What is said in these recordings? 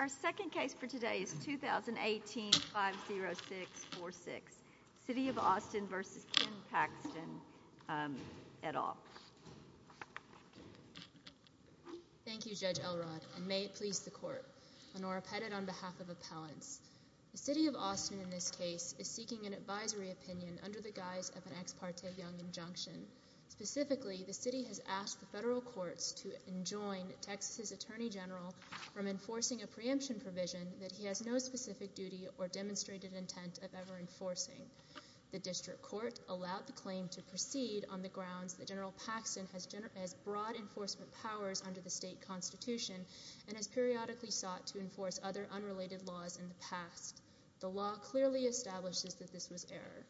Our second case for today is 2018-50646, City of Austin v. Ken Paxton, et al. Thank you, Judge Elrod, and may it please the Court. Lenora Pettid on behalf of Appellants The City of Austin in this case is seeking an advisory opinion under the guise of an ex parte young injunction. Specifically, the City has asked the Federal Courts to enjoin Texas' Attorney General from enforcing a preemption provision that he has no specific duty or demonstrated intent of ever enforcing. The District Court allowed the claim to proceed on the grounds that General Paxton has broad enforcement powers under the state constitution and has periodically sought to enforce other unrelated laws in the past. The law clearly establishes that this was error.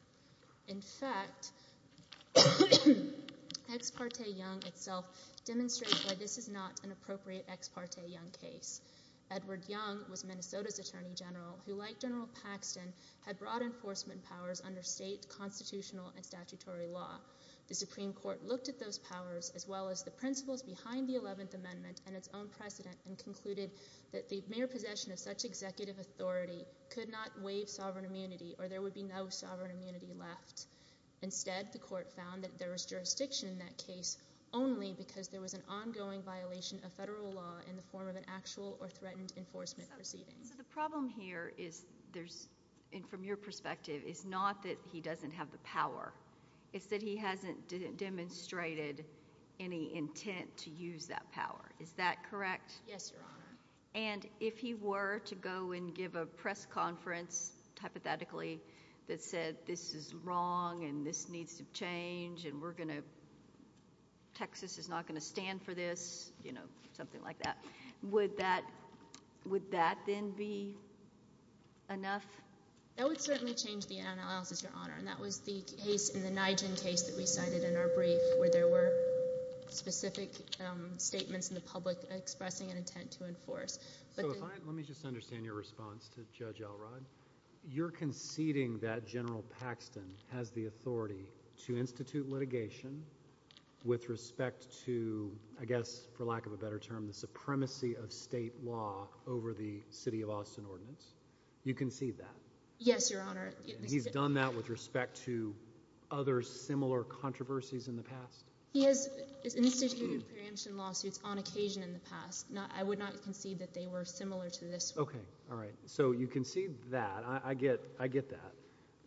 In fact, ex parte young itself demonstrates why this is not an appropriate ex parte young case. Edward Young was Minnesota's Attorney General who, like General Paxton, had broad enforcement powers under state constitutional and statutory law. The Supreme Court looked at those powers, as well as the principles behind the Eleventh Amendment and its own precedent, and concluded that the mere possession of such executive authority could not waive sovereign immunity or there would be no sovereign immunity left. Instead, the Court found that there was jurisdiction in that case only because there was an ongoing violation of federal law in the form of an actual or threatened enforcement proceeding. So the problem here is, from your perspective, is not that he doesn't have the power. It's that he hasn't demonstrated any intent to use that power. Is that correct? Yes, Your Honor. And if he were to go and give a press conference, hypothetically, that said this is wrong and this needs to change and Texas is not going to stand for this, you know, something like that, would that, would that then be enough? That would certainly change the analysis, Your Honor, and that was the case in the Nijgen case that we cited in our brief where there were specific statements in the public expressing an intent to enforce. So if I, let me just understand your response to Judge Elrod. You're conceding that General Paxton has the authority to institute litigation with respect to, I guess, for lack of a better term, the supremacy of state law over the city of Austin ordinance. You concede that? Yes, Your Honor. And he's done that with respect to other similar controversies in the past? He has instituted preemption lawsuits on occasion in the past. I would not concede that they were similar to this one. Okay. All right. So you concede that. I get, I get that.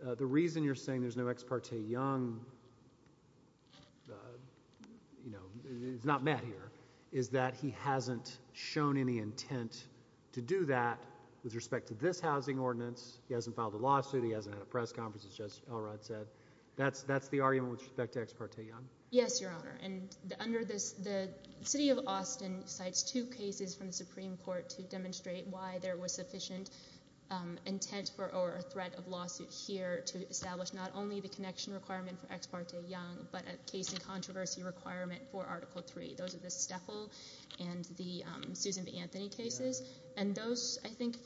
But the reason you're saying there's no Ex parte Young, you know, it's not met here, is that he hasn't shown any intent to do that with respect to this housing ordinance. He hasn't filed a lawsuit. He hasn't had a press conference, as Judge Elrod said. That's, that's the argument with respect to Ex parte Young? Yes, Your Honor. And under this, the city of Austin cites two cases from the Supreme Court to demonstrate why there was sufficient intent for or threat of lawsuit here to establish not only the connection requirement for Ex parte Young, but a case in controversy requirement for Article 3. Those are the Steffel and the Susan B. Anthony cases. And those, I think,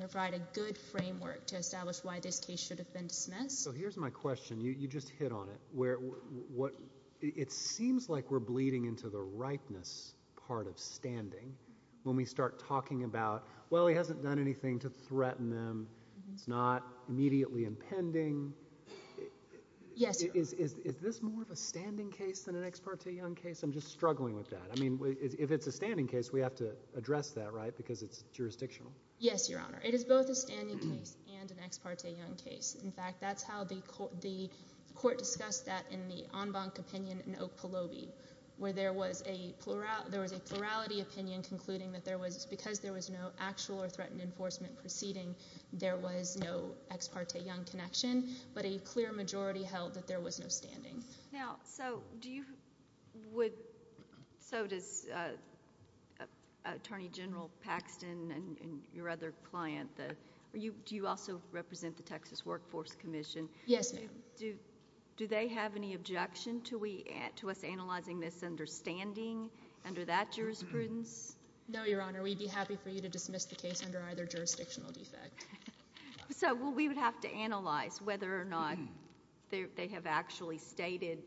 provide a good framework to establish why this case should have been dismissed. So here's my question. You just hit on it. Where, what, it seems like we're bleeding into the ripeness part of standing when we start talking about, well, he hasn't done anything to threaten them, it's not immediately impending. Yes, Your Honor. Is, is, is this more of a standing case than an Ex parte Young case? I'm just struggling with that. I mean, if, if it's a standing case, we have to address that, right? Because it's jurisdictional. Yes, Your Honor. It is both a standing case and an Ex parte Young case. In fact, that's how the court, the court discussed that in the en banc opinion in Oak because there was no actual or threatened enforcement proceeding. There was no Ex parte Young connection, but a clear majority held that there was no standing. Now, so do you, would, so does Attorney General Paxton and your other client, the, are you, do you also represent the Texas Workforce Commission? Yes, ma'am. Do, do they have any objection to we, to us analyzing this understanding under that jurisprudence? No, Your Honor. We'd be happy for you to dismiss the case under either jurisdictional defect. So, well, we would have to analyze whether or not they, they have actually stated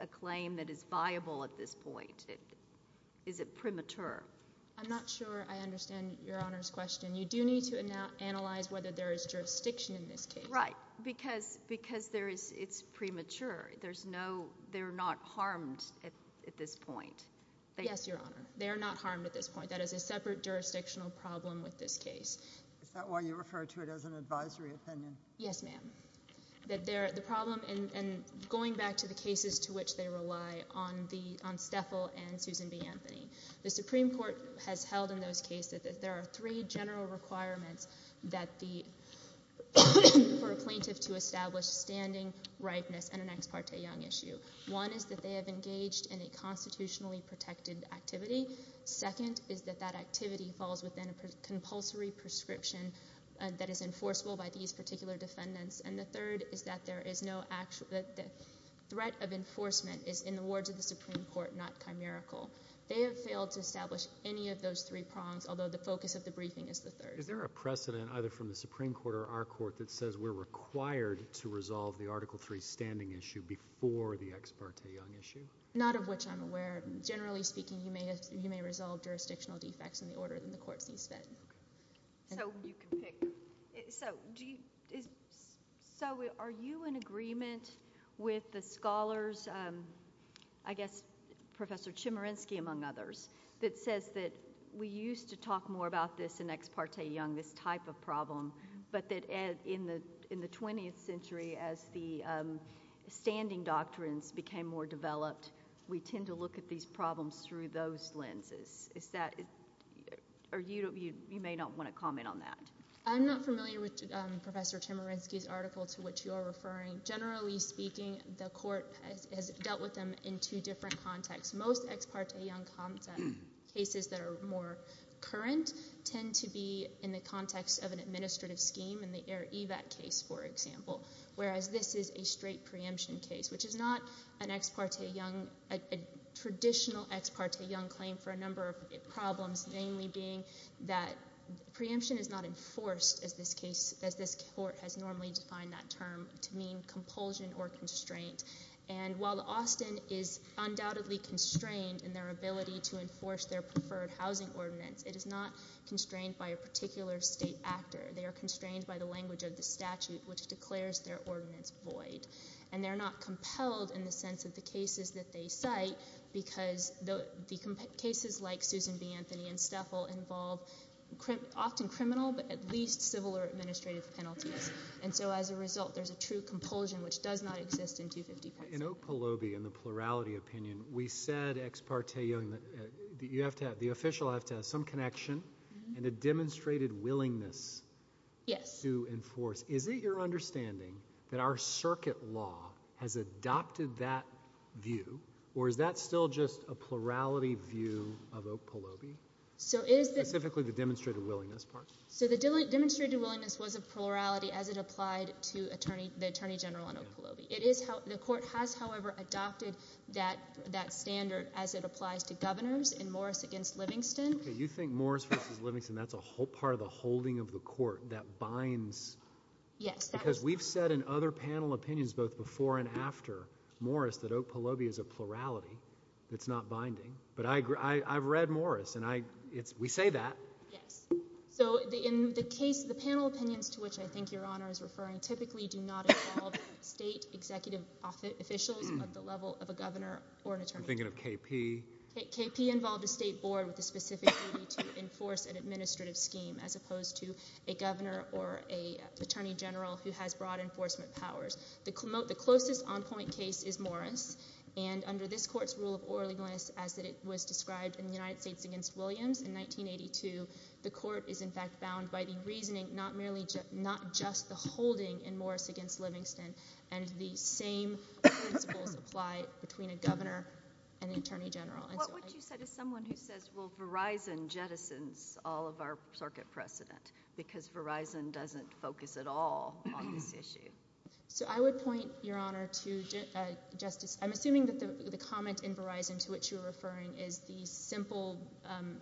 a claim that is viable at this point. Is it premature? I'm not sure I understand Your Honor's question. You do need to ana, analyze whether there is jurisdiction in this case. Right. Because, because there is, it's premature. There's no, they're not harmed at, at this point. Yes, Your Honor. They're not harmed at this point. That is a separate jurisdictional problem with this case. Is that why you refer to it as an advisory opinion? Yes, ma'am. That there, the problem in, in going back to the cases to which they rely on the, on Steffel and Susan B. Anthony. The Supreme Court has held in those cases that there are three general requirements that the, for a plaintiff to establish standing, ripeness, and an ex parte young issue. One is that they have engaged in a constitutionally protected activity. Second is that that activity falls within a compulsory prescription that is enforceable by these particular defendants. And the third is that there is no actual, that the threat of enforcement is in the words of the Supreme Court, not chimerical. They have failed to establish any of those three prongs, although the focus of the briefing is the third. Is there a precedent, either from the Supreme Court or our court, that says we're required to resolve the Article III standing issue before the ex parte young issue? Not of which I'm aware. But generally speaking, you may, you may resolve jurisdictional defects in the order that the court sees fit. Okay. So, you can pick. So, do you, is, so are you in agreement with the scholars, I guess Professor Chimerinsky among others, that says that we used to talk more about this in ex parte young, this type of problem, but that in the, in the 20th century, as the standing doctrines became more developed, we tend to look at these problems through those lenses? Is that, are you, you may not want to comment on that. I'm not familiar with Professor Chimerinsky's article to which you are referring. Generally speaking, the court has dealt with them in two different contexts. Most ex parte young cases that are more current tend to be in the context of an administrative scheme in the Air Evac case, for example, whereas this is a straight preemption case, which is not an ex parte young, a traditional ex parte young claim for a number of problems, mainly being that preemption is not enforced as this case, as this court has normally defined that term to mean compulsion or constraint. And while Austin is undoubtedly constrained in their ability to enforce their preferred housing ordinance, it is not constrained by a particular state actor. They are constrained by the language of the statute, which declares their ordinance void. And they're not compelled in the sense of the cases that they cite, because the cases like Susan B. Anthony and Steffel involve often criminal, but at least civil or administrative penalties. And so as a result, there's a true compulsion, which does not exist in 250%. In Oak Pahlobi, in the plurality opinion, we said ex parte young, you have to have, the official has to have some connection and a demonstrated willingness to enforce. Is it your understanding that our circuit law has adopted that view, or is that still just a plurality view of Oak Pahlobi? Specifically the demonstrated willingness part? So the demonstrated willingness was a plurality as it applied to the Attorney General on Oak Pahlobi. The court has, however, adopted that standard as it applies to governors in Morris v. Livingston. You think Morris v. Livingston, that's a whole part of the holding of the court that Yes. Because we've said in other panel opinions, both before and after Morris, that Oak Pahlobi is a plurality that's not binding. But I've read Morris, and we say that. Yes. So in the case, the panel opinions to which I think Your Honor is referring typically do not involve state executive officials of the level of a governor or an attorney general. I'm thinking of KP. KP involved a state board with the specific duty to enforce an administrative scheme, as opposed to a governor or an attorney general who has broad enforcement powers. The closest on-point case is Morris, and under this court's rule of orally willingness as it was described in the United States v. Williams in 1982, the court is in fact bound by the reasoning not just the holding in Morris v. Livingston, and the same principles apply between a governor and an attorney general. What would you say to someone who says, well, Verizon jettisons all of our circuit precedent, because Verizon doesn't focus at all on this issue? So I would point, Your Honor, to Justice, I'm assuming that the comment in Verizon to which you're referring is the simple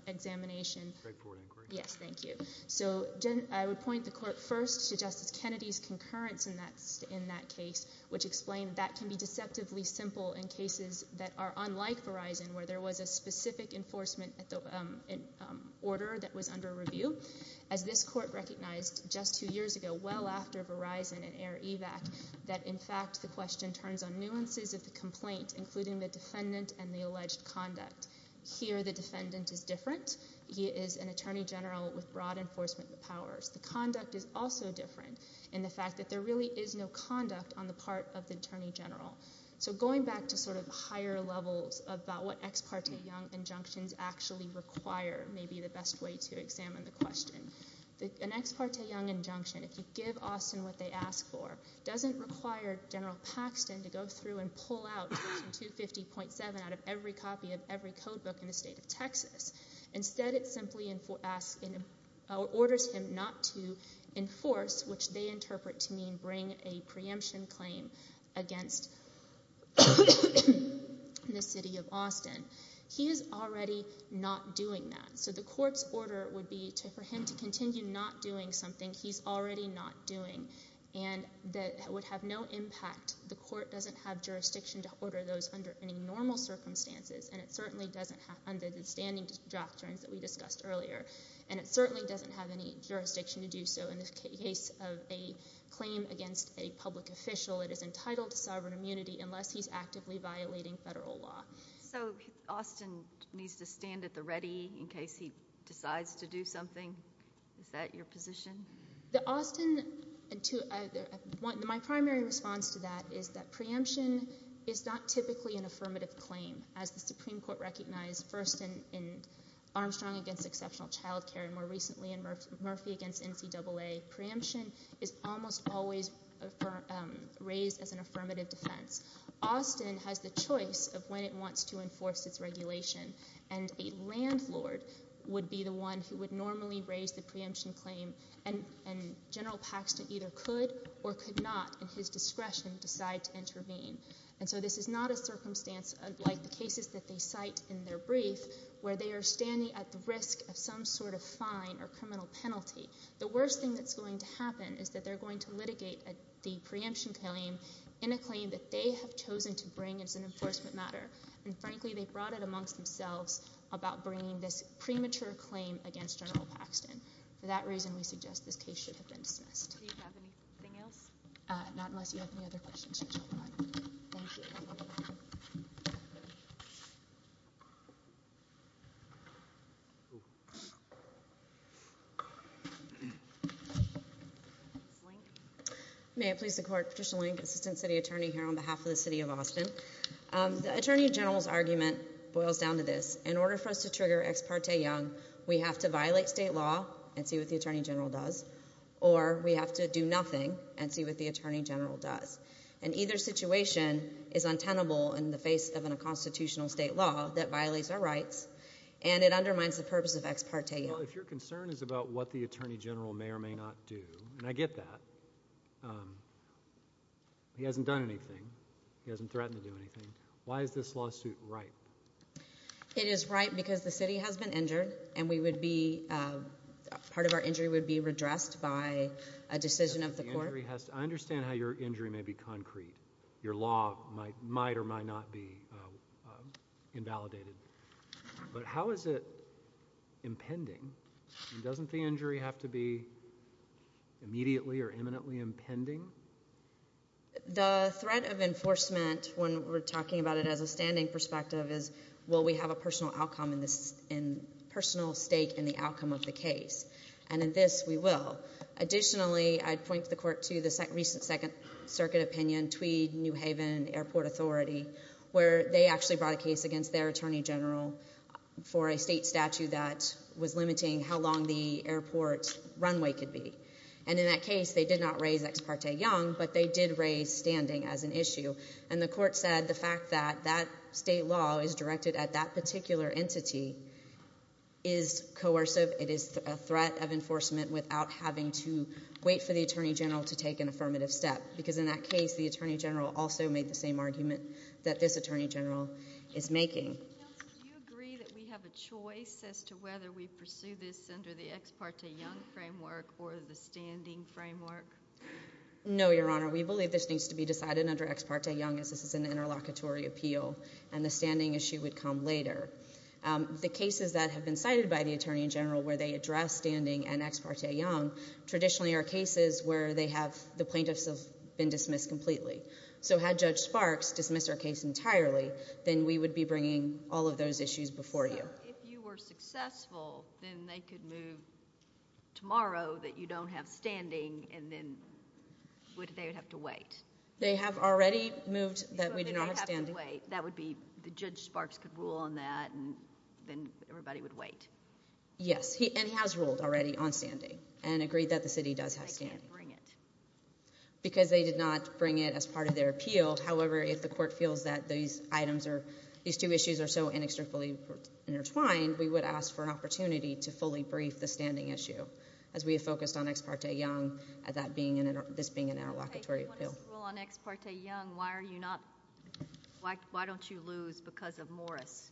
examination. Straightforward inquiry. Yes. Thank you. So I would point the court first to Justice Kennedy's concurrence in that case, which explained that can be deceptively simple in cases that are unlike Verizon, where there was a specific enforcement order that was under review. As this court recognized just two years ago, well after Verizon and Air Evac, that in fact the question turns on nuances of the complaint, including the defendant and the alleged conduct. Here the defendant is different. He is an attorney general with broad enforcement powers. The conduct is also different in the fact that there really is no conduct on the part of the attorney general. So going back to sort of higher levels about what ex parte young injunctions actually require may be the best way to examine the question. An ex parte young injunction, if you give Austin what they ask for, doesn't require General Paxton to go through and pull out Section 250.7 out of every copy of every code book in the state of Texas. Instead it simply orders him not to enforce, which they interpret to mean bring a preemption claim against the city of Austin. He is already not doing that. So the court's order would be for him to continue not doing something he's already not doing and that would have no impact. The court doesn't have jurisdiction to order those under any normal circumstances and it certainly doesn't have, under the standing doctrines that we discussed earlier, and it certainly doesn't have any jurisdiction to do so in the case of a claim against a public official that is entitled to sovereign immunity unless he's actively violating federal law. So Austin needs to stand at the ready in case he decides to do something? Is that your position? My primary response to that is that preemption is not typically an affirmative claim. As the Supreme Court recognized first in Armstrong v. Exceptional Child Care and more recently in Murphy v. NCAA, preemption is almost always raised as an affirmative defense. Austin has the choice of when it wants to enforce its regulation and a landlord would be the one who would normally raise the preemption claim and General Paxton either could or could not in his discretion decide to intervene. And so this is not a circumstance like the cases that they cite in their brief where they are standing at the risk of some sort of fine or criminal penalty. The worst thing that's going to happen is that they're going to litigate the preemption claim in a claim that they have chosen to bring as an enforcement matter and frankly they brought it amongst themselves about bringing this premature claim against General Paxton. For that reason we suggest this case should have been dismissed. Do you have anything else? Not unless you have any other questions. Thank you. May I please the court? Patricia Lange, Assistant City Attorney here on behalf of the City of Austin. The Attorney General's argument boils down to this. In order for us to trigger Ex parte Young we have to violate state law and see what the Attorney General does or we have to do nothing and see what the Attorney General does. And either situation is untenable in the face of a constitutional state law that violates our rights and it undermines the purpose of Ex parte Young. Well if your concern is about what the Attorney General may or may not do, and I get that, he hasn't done anything, he hasn't threatened to do anything, why is this lawsuit ripe? It is ripe because the city has been injured and we would be, part of our injury would be redressed by a decision of the court. I understand how your injury may be concrete. Your law might or might not be invalidated. But how is it impending? Doesn't the injury have to be immediately or imminently impending? The threat of enforcement when we're talking about it as a standing perspective is will we have a personal outcome and personal stake in the outcome of the case. And in this we will. Additionally, I'd point the court to the recent Second Circuit opinion, Tweed, New Haven, Airport Authority, where they actually brought a case against their Attorney General for a state statute that was limiting how long the airport's runway could be. And in that case they did not raise Ex parte Young, but they did raise standing as an issue. And the court said the fact that that state law is directed at that particular entity is coercive. It is a threat of enforcement without having to wait for the Attorney General to take an affirmative step. Because in that case the Attorney General also made the same argument that this Attorney General is making. Do you agree that we have a choice as to whether we pursue this under the Ex parte Young framework or the standing framework? No, Your Honor. We believe this needs to be decided under Ex parte Young as this is an interlocutory appeal and the standing issue would come later. The cases that have been cited by the Attorney General where they address standing and Ex parte Young traditionally are cases where they have, the plaintiffs have been dismissed completely. So had Judge Sparks dismissed our case entirely, then we would be bringing all of those issues before you. But if you were successful, then they could move tomorrow that you don't have standing and then they would have to wait. They have already moved that we do not have standing. So they have to wait. That would be, the Judge Sparks could rule on that and then everybody would wait. Yes. And he has ruled already on standing and agreed that the city does have standing. They can't bring it. Because they did not bring it as part of their appeal. However, if the court feels that these items are, these two issues are so inextricably intertwined, we would ask for an opportunity to fully brief the standing issue as we have Why are you not, why don't you lose because of Morris?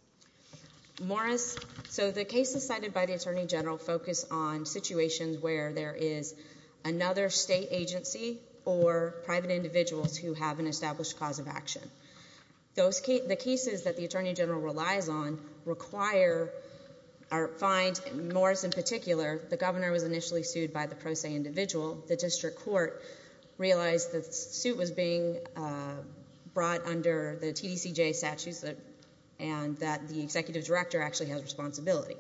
Morris, so the cases cited by the Attorney General focus on situations where there is another state agency or private individuals who have an established cause of action. The cases that the Attorney General relies on require, or find Morris in particular, the governor was initially sued by the pro se individual. The district court realized that the suit was being brought under the TDCJ statutes and that the executive director actually has responsibility.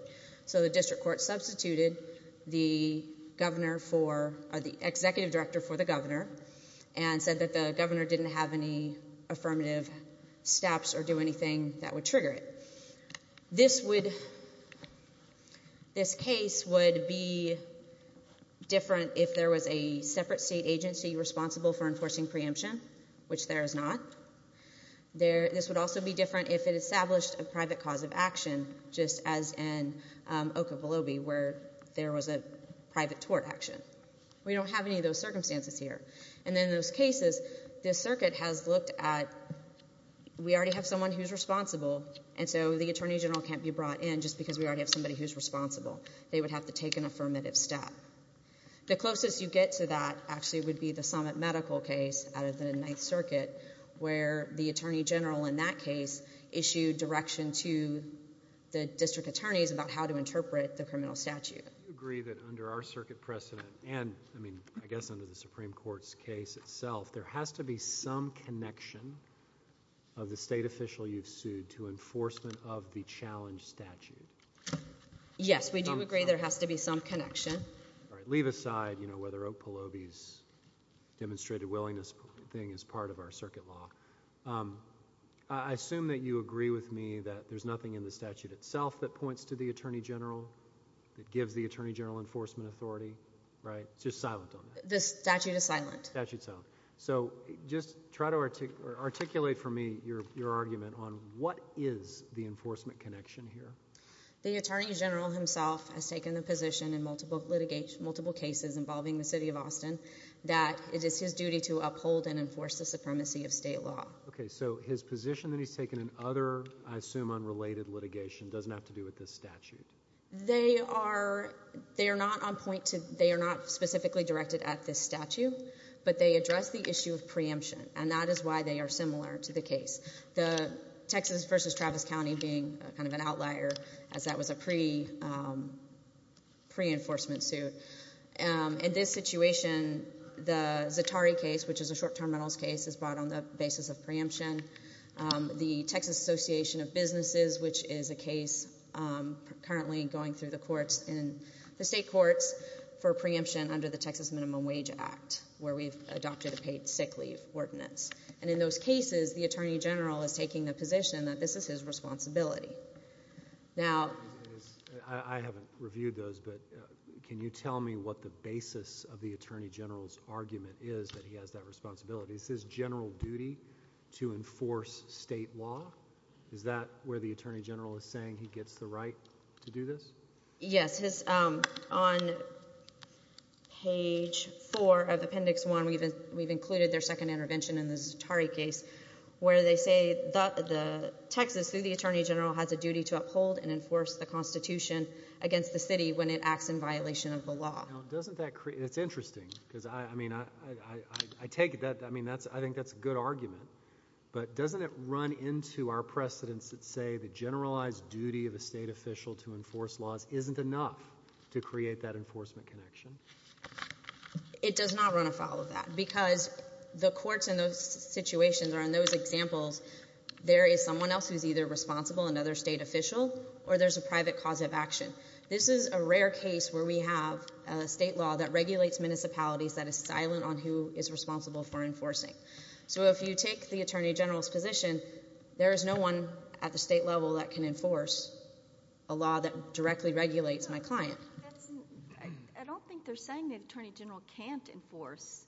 So the district court substituted the governor for, or the executive director for the governor and said that the governor didn't have any affirmative steps or do anything that would trigger it. This would, this case would be different if there was a separate state agency responsible for enforcing preemption, which there is not. This would also be different if it established a private cause of action, just as in Oklahoma where there was a private tort action. We don't have any of those circumstances here. And in those cases, the circuit has looked at, we already have someone who is responsible and so the Attorney General can't be brought in just because we already have somebody who is responsible. They would have to take an affirmative step. The closest you get to that actually would be the summit medical case out of the Ninth Circuit where the Attorney General in that case issued direction to the district attorneys about how to interpret the criminal statute. Do you agree that under our circuit precedent and, I mean, I guess under the Supreme Court's case itself, there has to be some connection of the state official you've sued to enforcement of the challenge statute? Yes, we do agree there has to be some connection. All right. Leave aside, you know, whether Oak Pahlobi's demonstrated willingness thing is part of our circuit law. I assume that you agree with me that there's nothing in the statute itself that points to the Attorney General, that gives the Attorney General enforcement authority, right? The statute is silent. The statute is silent. So just try to articulate for me your argument on what is the enforcement connection here. The Attorney General himself has taken the position in multiple cases involving the city of Austin that it is his duty to uphold and enforce the supremacy of state law. Okay, so his position that he's taken in other, I assume, unrelated litigation doesn't have to do with this statute. They are not on point to, they are not specifically directed at this statute, but they address the issue of preemption, and that is why they are similar to the case. The Texas v. Travis County being kind of an outlier as that was a pre-enforcement suit. In this situation, the Zatari case, which is a short-term metals case, is brought on the basis of preemption. The Texas Association of Businesses, which is a case currently going through the courts, the state courts, for preemption under the Texas Minimum Wage Act, where we've adopted a paid sick leave ordinance. And in those cases, the Attorney General is taking the position that this is his responsibility. I haven't reviewed those, but can you tell me what the basis of the Attorney General's argument is that he has that responsibility? Is his general duty to enforce state law? Is that where the Attorney General is saying he gets the right to do this? Yes. On page 4 of Appendix 1, we've included their second intervention in the Zatari case, where they say Texas, through the Attorney General, has a duty to uphold and enforce the Constitution against the city when it acts in violation of the law. Now, doesn't that create—it's interesting, because, I mean, I take that—I mean, I think that's a good argument. But doesn't it run into our precedents that say the generalized duty of a state official to enforce laws isn't enough to create that enforcement connection? It does not run afoul of that because the courts in those situations or in those examples, there is someone else who's either responsible, another state official, or there's a private cause of action. This is a rare case where we have a state law that regulates municipalities that is silent on who is responsible for enforcing. So if you take the Attorney General's position, there is no one at the state level that can enforce a law that directly regulates my client. I don't think they're saying the Attorney General can't enforce.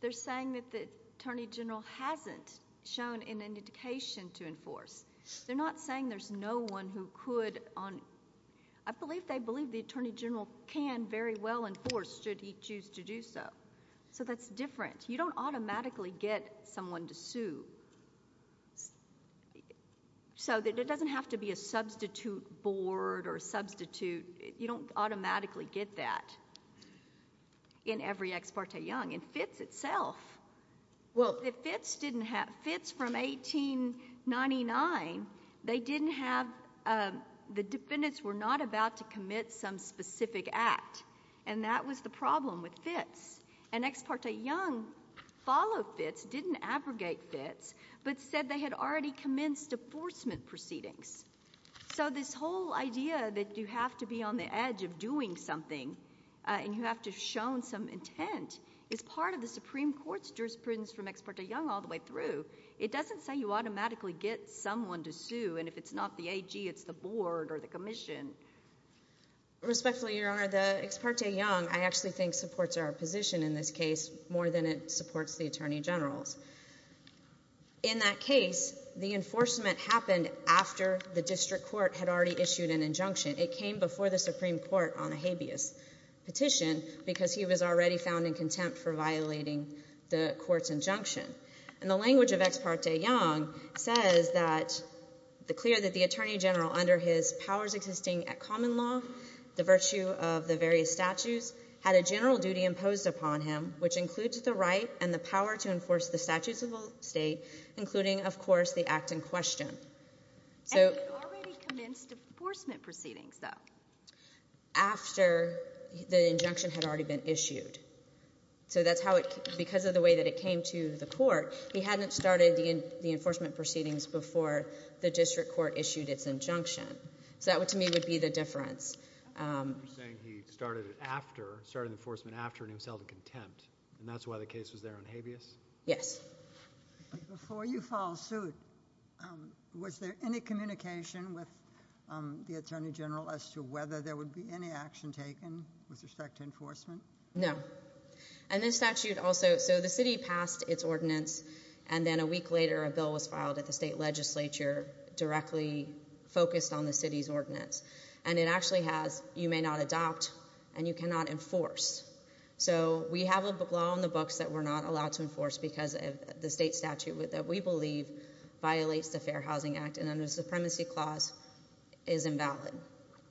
They're saying that the Attorney General hasn't shown an indication to enforce. They're not saying there's no one who could—I believe they believe the Attorney General can very well enforce should he choose to do so. So that's different. You don't automatically get someone to sue. So it doesn't have to be a substitute board or a substitute. You don't automatically get that in every ex parte young. And FITS itself, FITS from 1899, they didn't have—the defendants were not about to commit some specific act, and that was the problem with FITS. An ex parte young followed FITS, didn't abrogate FITS, but said they had already commenced enforcement proceedings. So this whole idea that you have to be on the edge of doing something and you have to have shown some intent is part of the Supreme Court's jurisprudence from ex parte young all the way through. It doesn't say you automatically get someone to sue, and if it's not the AG, it's the board or the commission. Respectfully, Your Honor, the ex parte young I actually think supports our position in this case more than it supports the Attorney General's. In that case, the enforcement happened after the district court had already issued an injunction. It came before the Supreme Court on a habeas petition because he was already found in contempt for violating the court's injunction. And the language of ex parte young says that—declared that the Attorney General under his powers existing at common law, the virtue of the various statutes, had a general duty imposed upon him, which includes the right and the power to enforce the statutes of the state, including, of course, the act in question. And he had already commenced enforcement proceedings, though. After the injunction had already been issued. So that's how it—because of the way that it came to the court, he hadn't started the enforcement proceedings before the district court issued its injunction. So that, to me, would be the difference. You're saying he started it after—started enforcement after and he was held in contempt, and that's why the case was there on habeas? Yes. Before you filed suit, was there any communication with the Attorney General as to whether there would be any action taken with respect to enforcement? No. And this statute also—so the city passed its ordinance, and then a week later a bill was filed at the state legislature directly focused on the city's ordinance. And it actually has, you may not adopt and you cannot enforce. So we have a law on the books that we're not allowed to enforce because the state statute that we believe violates the Fair Housing Act and the Supremacy Clause is invalid.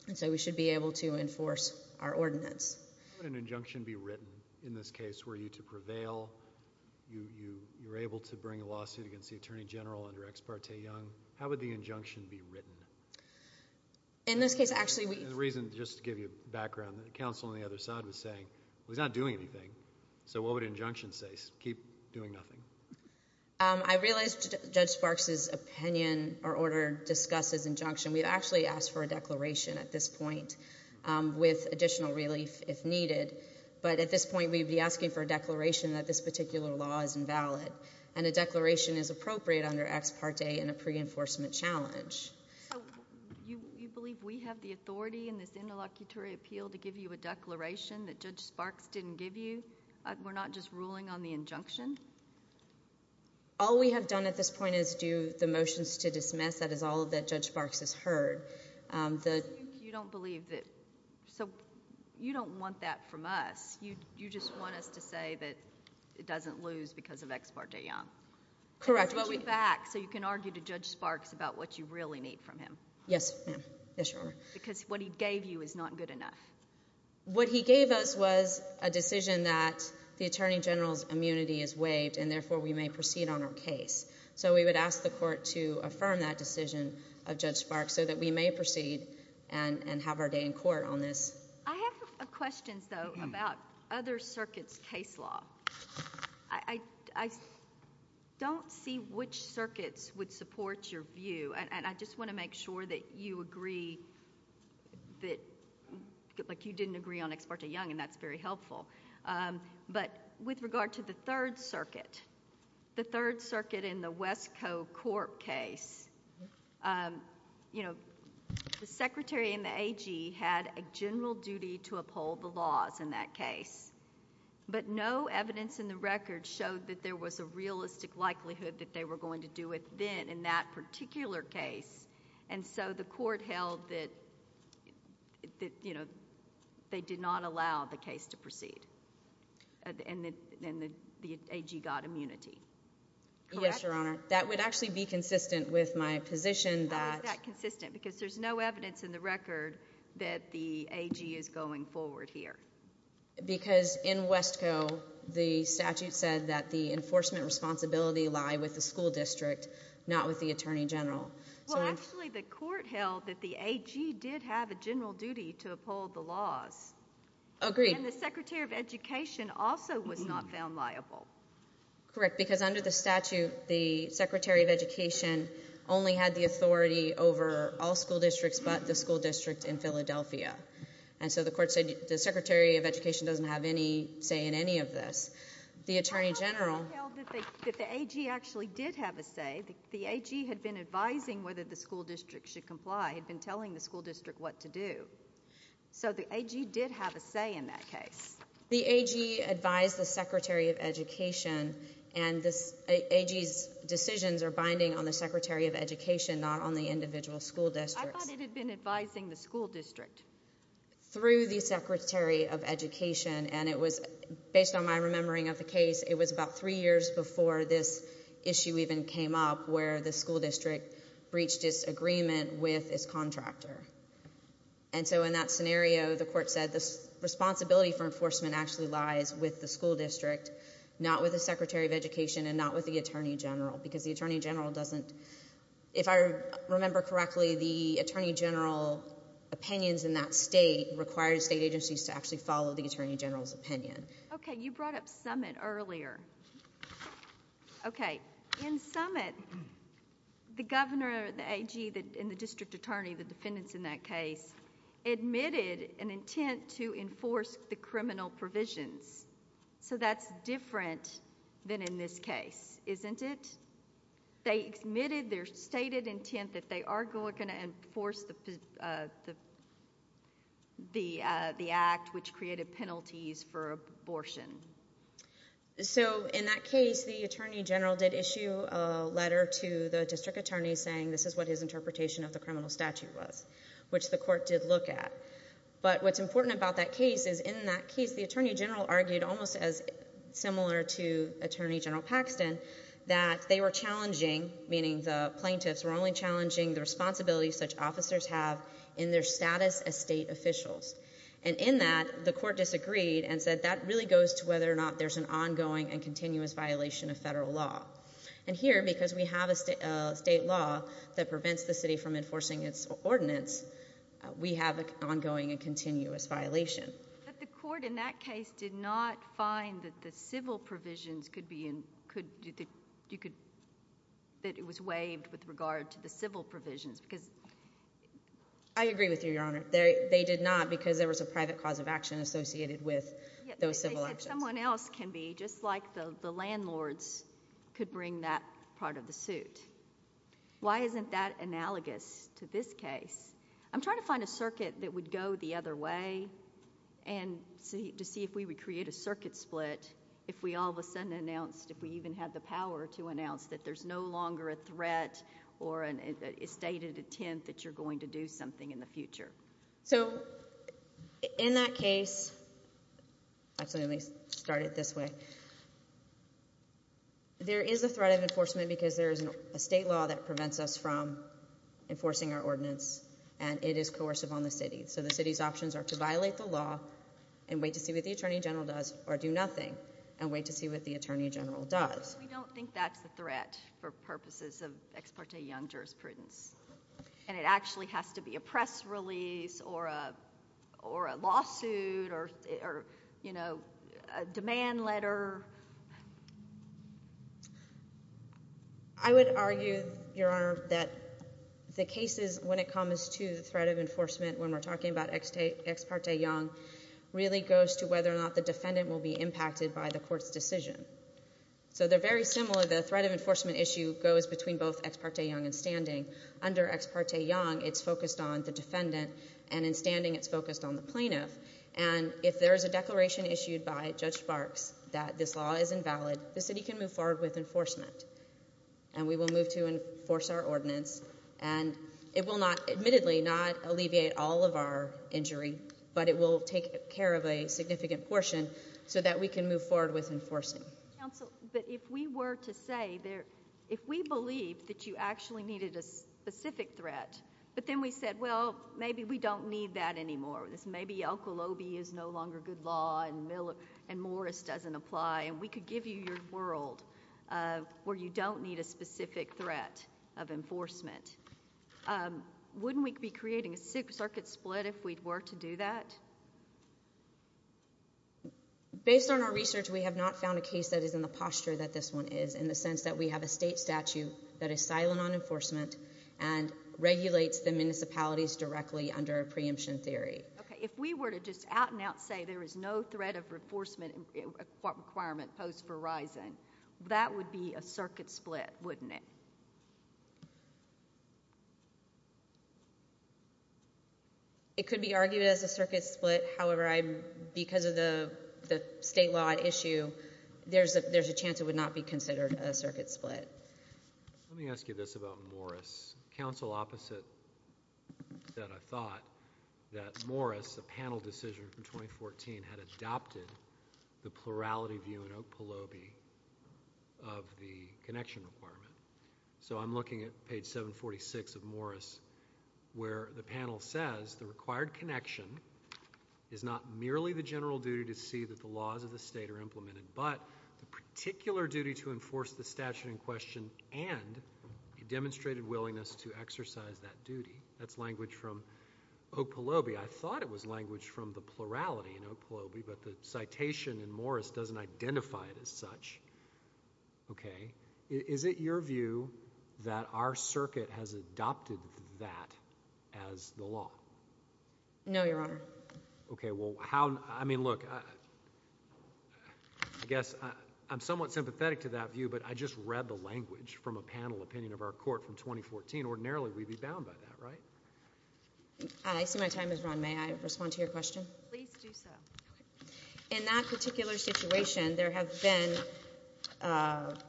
And so we should be able to enforce our ordinance. How would an injunction be written in this case were you to prevail? You were able to bring a lawsuit against the Attorney General under Ex parte Young. How would the injunction be written? In this case, actually, we— And the reason—just to give you background, the counsel on the other side was saying, well, he's not doing anything. So what would an injunction say? Keep doing nothing. I realize Judge Sparks' opinion or order discusses injunction. We'd actually ask for a declaration at this point with additional relief if needed. But at this point, we'd be asking for a declaration that this particular law is invalid. And a declaration is appropriate under Ex parte in a pre-enforcement challenge. So you believe we have the authority in this interlocutory appeal to give you a declaration that Judge Sparks didn't give you? We're not just ruling on the injunction? All we have done at this point is do the motions to dismiss. That is all that Judge Sparks has heard. You don't believe that—so you don't want that from us. You just want us to say that it doesn't lose because of Ex parte Young. Correct. So you can argue to Judge Sparks about what you really need from him. Yes, ma'am. Yes, Your Honor. Because what he gave you is not good enough. What he gave us was a decision that the Attorney General's immunity is waived, and therefore we may proceed on our case. So we would ask the court to affirm that decision of Judge Sparks so that we may proceed and have our day in court on this. I have questions, though, about other circuits' case law. I don't see which circuits would support your view. And I just want to make sure that you agree that—like you didn't agree on Ex parte Young, and that's very helpful. But with regard to the Third Circuit, the Third Circuit in the West Co. Corp. case, the secretary and the AG had a general duty to uphold the laws in that case, but no evidence in the record showed that there was a realistic likelihood that they were going to do it then in that particular case. And so the court held that they did not allow the case to proceed, and the AG got immunity. Yes, Your Honor. That would actually be consistent with my position that— How is that consistent? Because there's no evidence in the record that the AG is going forward here. Because in West Co., the statute said that the enforcement responsibility lie with the school district, not with the Attorney General. Well, actually, the court held that the AG did have a general duty to uphold the laws. Agreed. And the secretary of education also was not found liable. Correct, because under the statute, the secretary of education only had the authority over all school districts but the school district in Philadelphia. And so the court said the secretary of education doesn't have any say in any of this. Well, the court held that the AG actually did have a say. The AG had been advising whether the school district should comply. It had been telling the school district what to do. So the AG did have a say in that case. The AG advised the secretary of education, and the AG's decisions are binding on the secretary of education, not on the individual school districts. I thought it had been advising the school district. Through the secretary of education, and it was based on my remembering of the case, it was about three years before this issue even came up where the school district breached its agreement with its contractor. And so in that scenario, the court said the responsibility for enforcement actually lies with the school district, not with the secretary of education, and not with the attorney general. Because the attorney general doesn't, if I remember correctly, the attorney general opinions in that state require state agencies to actually follow the attorney general's opinion. Okay, you brought up Summit earlier. Okay, in Summit, the governor, the AG, and the district attorney, the defendants in that case, admitted an intent to enforce the criminal provisions. So that's different than in this case, isn't it? They admitted their stated intent that they are going to enforce the act which created penalties for abortion. So in that case, the attorney general did issue a letter to the district attorney saying this is what his interpretation of the criminal statute was, which the court did look at. But what's important about that case is in that case, the attorney general argued almost as similar to Attorney General Paxton that they were challenging, meaning the plaintiffs were only challenging the responsibilities such officers have in their status as state officials. And in that, the court disagreed and said that really goes to whether or not there's an ongoing and continuous violation of federal law. And here, because we have a state law that prevents the city from enforcing its ordinance, we have an ongoing and continuous violation. But the court in that case did not find that the civil provisions could be in – that it was waived with regard to the civil provisions. I agree with you, Your Honor. They did not because there was a private cause of action associated with those civil actions. In that case, if someone else can be, just like the landlords could bring that part of the suit, why isn't that analogous to this case? I'm trying to find a circuit that would go the other way and to see if we would create a circuit split if we all of a sudden announced, if we even had the power to announce that there's no longer a threat or a stated intent that you're going to do something in the future. So in that case – actually, let me start it this way. There is a threat of enforcement because there is a state law that prevents us from enforcing our ordinance, and it is coercive on the city. So the city's options are to violate the law and wait to see what the attorney general does, or do nothing and wait to see what the attorney general does. We don't think that's a threat for purposes of ex parte young jurisprudence. And it actually has to be a press release or a lawsuit or a demand letter. I would argue, Your Honor, that the cases when it comes to the threat of enforcement when we're talking about ex parte young really goes to whether or not the defendant will be impacted by the court's decision. So they're very similar. The threat of enforcement issue goes between both ex parte young and standing. Under ex parte young, it's focused on the defendant, and in standing, it's focused on the plaintiff. And if there is a declaration issued by Judge Barks that this law is invalid, the city can move forward with enforcement, and we will move to enforce our ordinance. And it will not, admittedly, not alleviate all of our injury, but it will take care of a significant portion so that we can move forward with enforcing. Counsel, but if we were to say there, if we believe that you actually needed a specific threat, but then we said, well, maybe we don't need that anymore. This may be Oklahoma is no longer good law, and Morris doesn't apply. And we could give you your world where you don't need a specific threat of enforcement. Wouldn't we be creating a circuit split if we were to do that? Based on our research, we have not found a case that is in the posture that this one is, in the sense that we have a state statute that is silent on enforcement and regulates the municipalities directly under a preemption theory. Okay, if we were to just out and out say there is no threat of enforcement requirement post Verizon, that would be a circuit split, wouldn't it? It could be argued as a circuit split. However, because of the state law issue, there's a chance it would not be considered a circuit split. Let me ask you this about Morris. There was counsel opposite that I thought that Morris, a panel decision from 2014, had adopted the plurality view in Oak Peloby of the connection requirement. So I'm looking at page 746 of Morris, where the panel says the required connection is not merely the general duty to see that the laws of the state are implemented, but the particular duty to enforce the statute in question and a demonstrated willingness to exercise that duty. That's language from Oak Peloby. I thought it was language from the plurality in Oak Peloby, but the citation in Morris doesn't identify it as such. Okay, is it your view that our circuit has adopted that as the law? No, Your Honor. Okay, well, how – I mean, look, I guess I'm somewhat sympathetic to that view, but I just read the language from a panel opinion of our court from 2014. Ordinarily, we'd be bound by that, right? I see my time is run. May I respond to your question? Please do so. Okay. In that particular situation, there have been –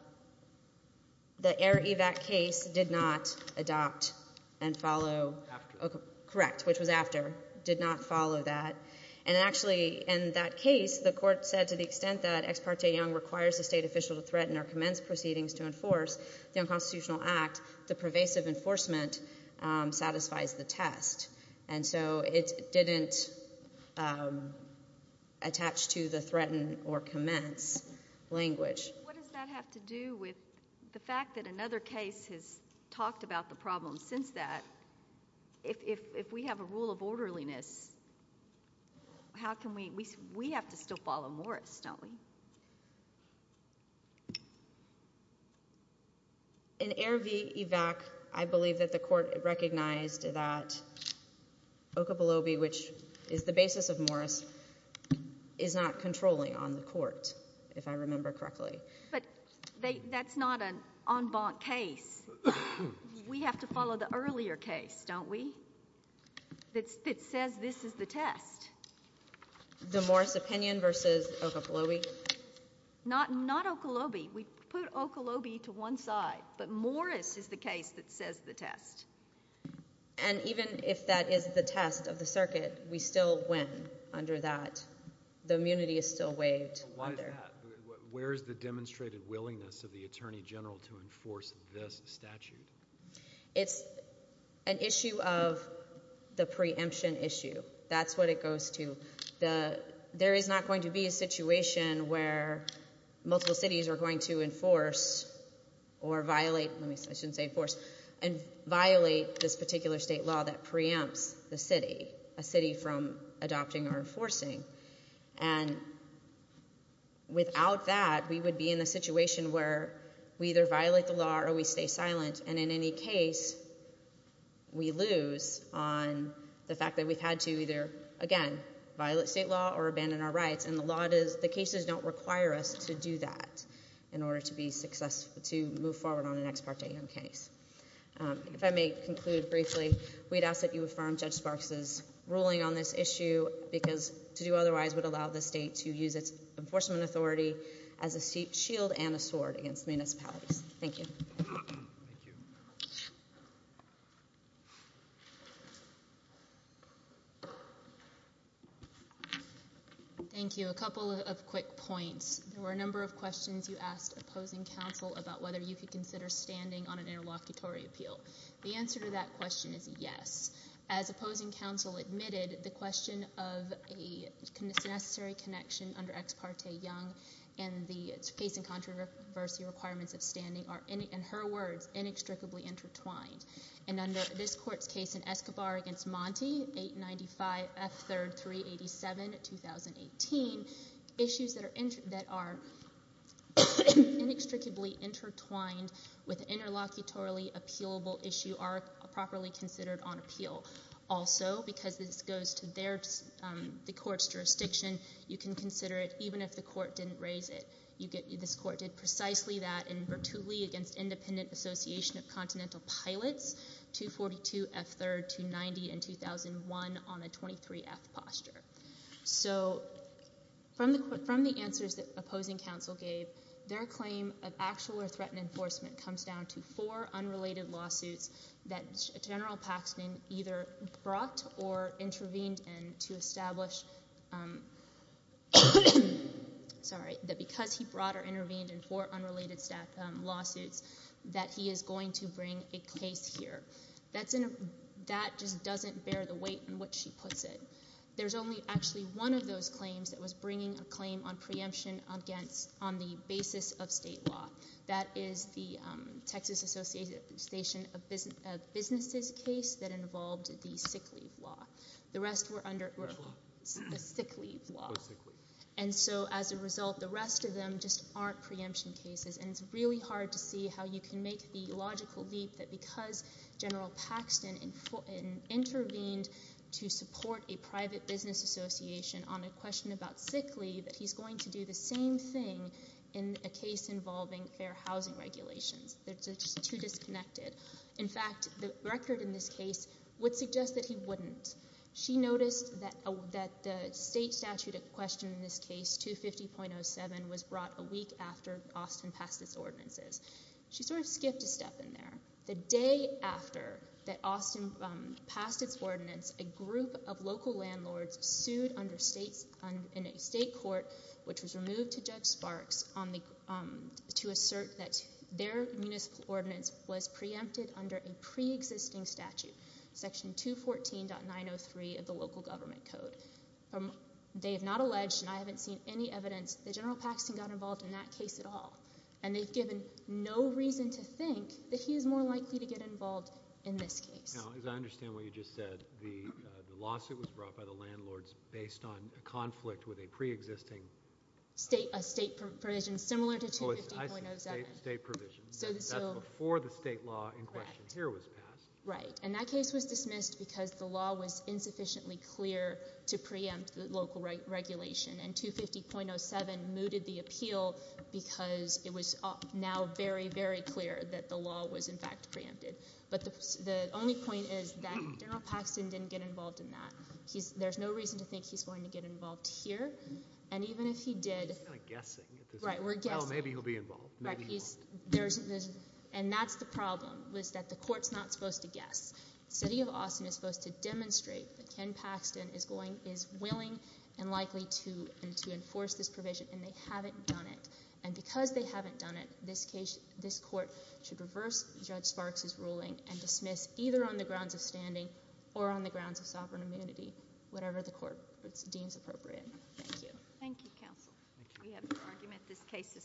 the Air Evac case did not adopt and follow – After. Correct, which was after. Did not follow that. And actually, in that case, the court said to the extent that Ex Parte Young requires a state official to threaten or commence proceedings to enforce the unconstitutional act, the pervasive enforcement satisfies the test. And so it didn't attach to the threaten or commence language. What does that have to do with the fact that another case has talked about the problem since that? If we have a rule of orderliness, how can we – we have to still follow Morris, don't we? In Air v. Evac, I believe that the court recognized that Okabelobe, which is the basis of Morris, is not controlling on the court, if I remember correctly. But that's not an en banc case. We have to follow the earlier case, don't we, that says this is the test. The Morris opinion versus Okabelobe? Not Okabelobe. We put Okabelobe to one side, but Morris is the case that says the test. And even if that is the test of the circuit, we still win under that. The immunity is still waived. Why is that? Where is the demonstrated willingness of the attorney general to enforce this statute? It's an issue of the preemption issue. That's what it goes to. There is not going to be a situation where multiple cities are going to enforce or violate – I shouldn't say enforce – and violate this particular state law that preempts the city, a city from adopting or enforcing. And without that, we would be in a situation where we either violate the law or we stay silent. And in any case, we lose on the fact that we've had to either, again, violate state law or abandon our rights. And the cases don't require us to do that in order to move forward on an ex parte case. If I may conclude briefly, we'd ask that you affirm Judge Sparks' ruling on this issue because to do otherwise would allow the state to use its enforcement authority as a shield and a sword against municipalities. Thank you. Thank you. Thank you. A couple of quick points. There were a number of questions you asked opposing counsel about whether you could consider standing on an interlocutory appeal. The answer to that question is yes. As opposing counsel admitted, the question of a necessary connection under ex parte young and the case in controversy requirements of standing are, in her words, inextricably intertwined. And under this court's case in Escobar v. Monti, 895 F. 3rd, 387, 2018, issues that are inextricably intertwined with an interlocutory appealable issue are properly considered on appeal. Also, because this goes to the court's jurisdiction, you can consider it even if the court didn't raise it. This court did precisely that in Bertulli v. Independent Association of Continental Pilots, 242 F. 3rd, 290, and 2001 on a 23-F posture. So from the answers that opposing counsel gave, their claim of actual or threatened enforcement comes down to four unrelated lawsuits that General Paxton either brought or intervened in to establish that because he brought or intervened in four unrelated lawsuits that he is going to bring a case here. That just doesn't bear the weight in which she puts it. There's only actually one of those claims that was bringing a claim on preemption on the basis of state law. That is the Texas Association of Businesses case that involved the sick leave law. The rest were under the sick leave law. And so as a result, the rest of them just aren't preemption cases. And it's really hard to see how you can make the logical leap that because General Paxton intervened to support a private business association on a question about sick leave that he's going to do the same thing in a case involving fair housing regulations. They're just too disconnected. In fact, the record in this case would suggest that he wouldn't. She noticed that the state statute at question in this case, 250.07, was brought a week after Austin passed its ordinances. She sort of skipped a step in there. The day after that Austin passed its ordinance, a group of local landlords sued in a state court, which was removed to Judge Sparks, to assert that their municipal ordinance was preempted under a preexisting statute, section 214.903 of the local government code. They have not alleged, and I haven't seen any evidence that General Paxton got involved in that case at all. And they've given no reason to think that he is more likely to get involved in this case. Now, as I understand what you just said, the lawsuit was brought by the landlords based on a conflict with a preexisting state provision, similar to 250.07. State provision. That's before the state law in question here was passed. Right. And that case was dismissed because the law was insufficiently clear to preempt the local regulation. And 250.07 mooted the appeal because it was now very, very clear that the law was in fact preempted. But the only point is that General Paxton didn't get involved in that. There's no reason to think he's going to get involved here. And even if he did. He's kind of guessing. Right, we're guessing. Well, maybe he'll be involved. Maybe he won't. And that's the problem, is that the court's not supposed to guess. The city of Austin is supposed to demonstrate that Ken Paxton is willing and likely to enforce this provision, and they haven't done it. And because they haven't done it, this court should reverse Judge Sparks' ruling and dismiss either on the grounds of standing or on the grounds of sovereign immunity, whatever the court deems appropriate. Thank you. Thank you, counsel. We have your argument. This case is submitted.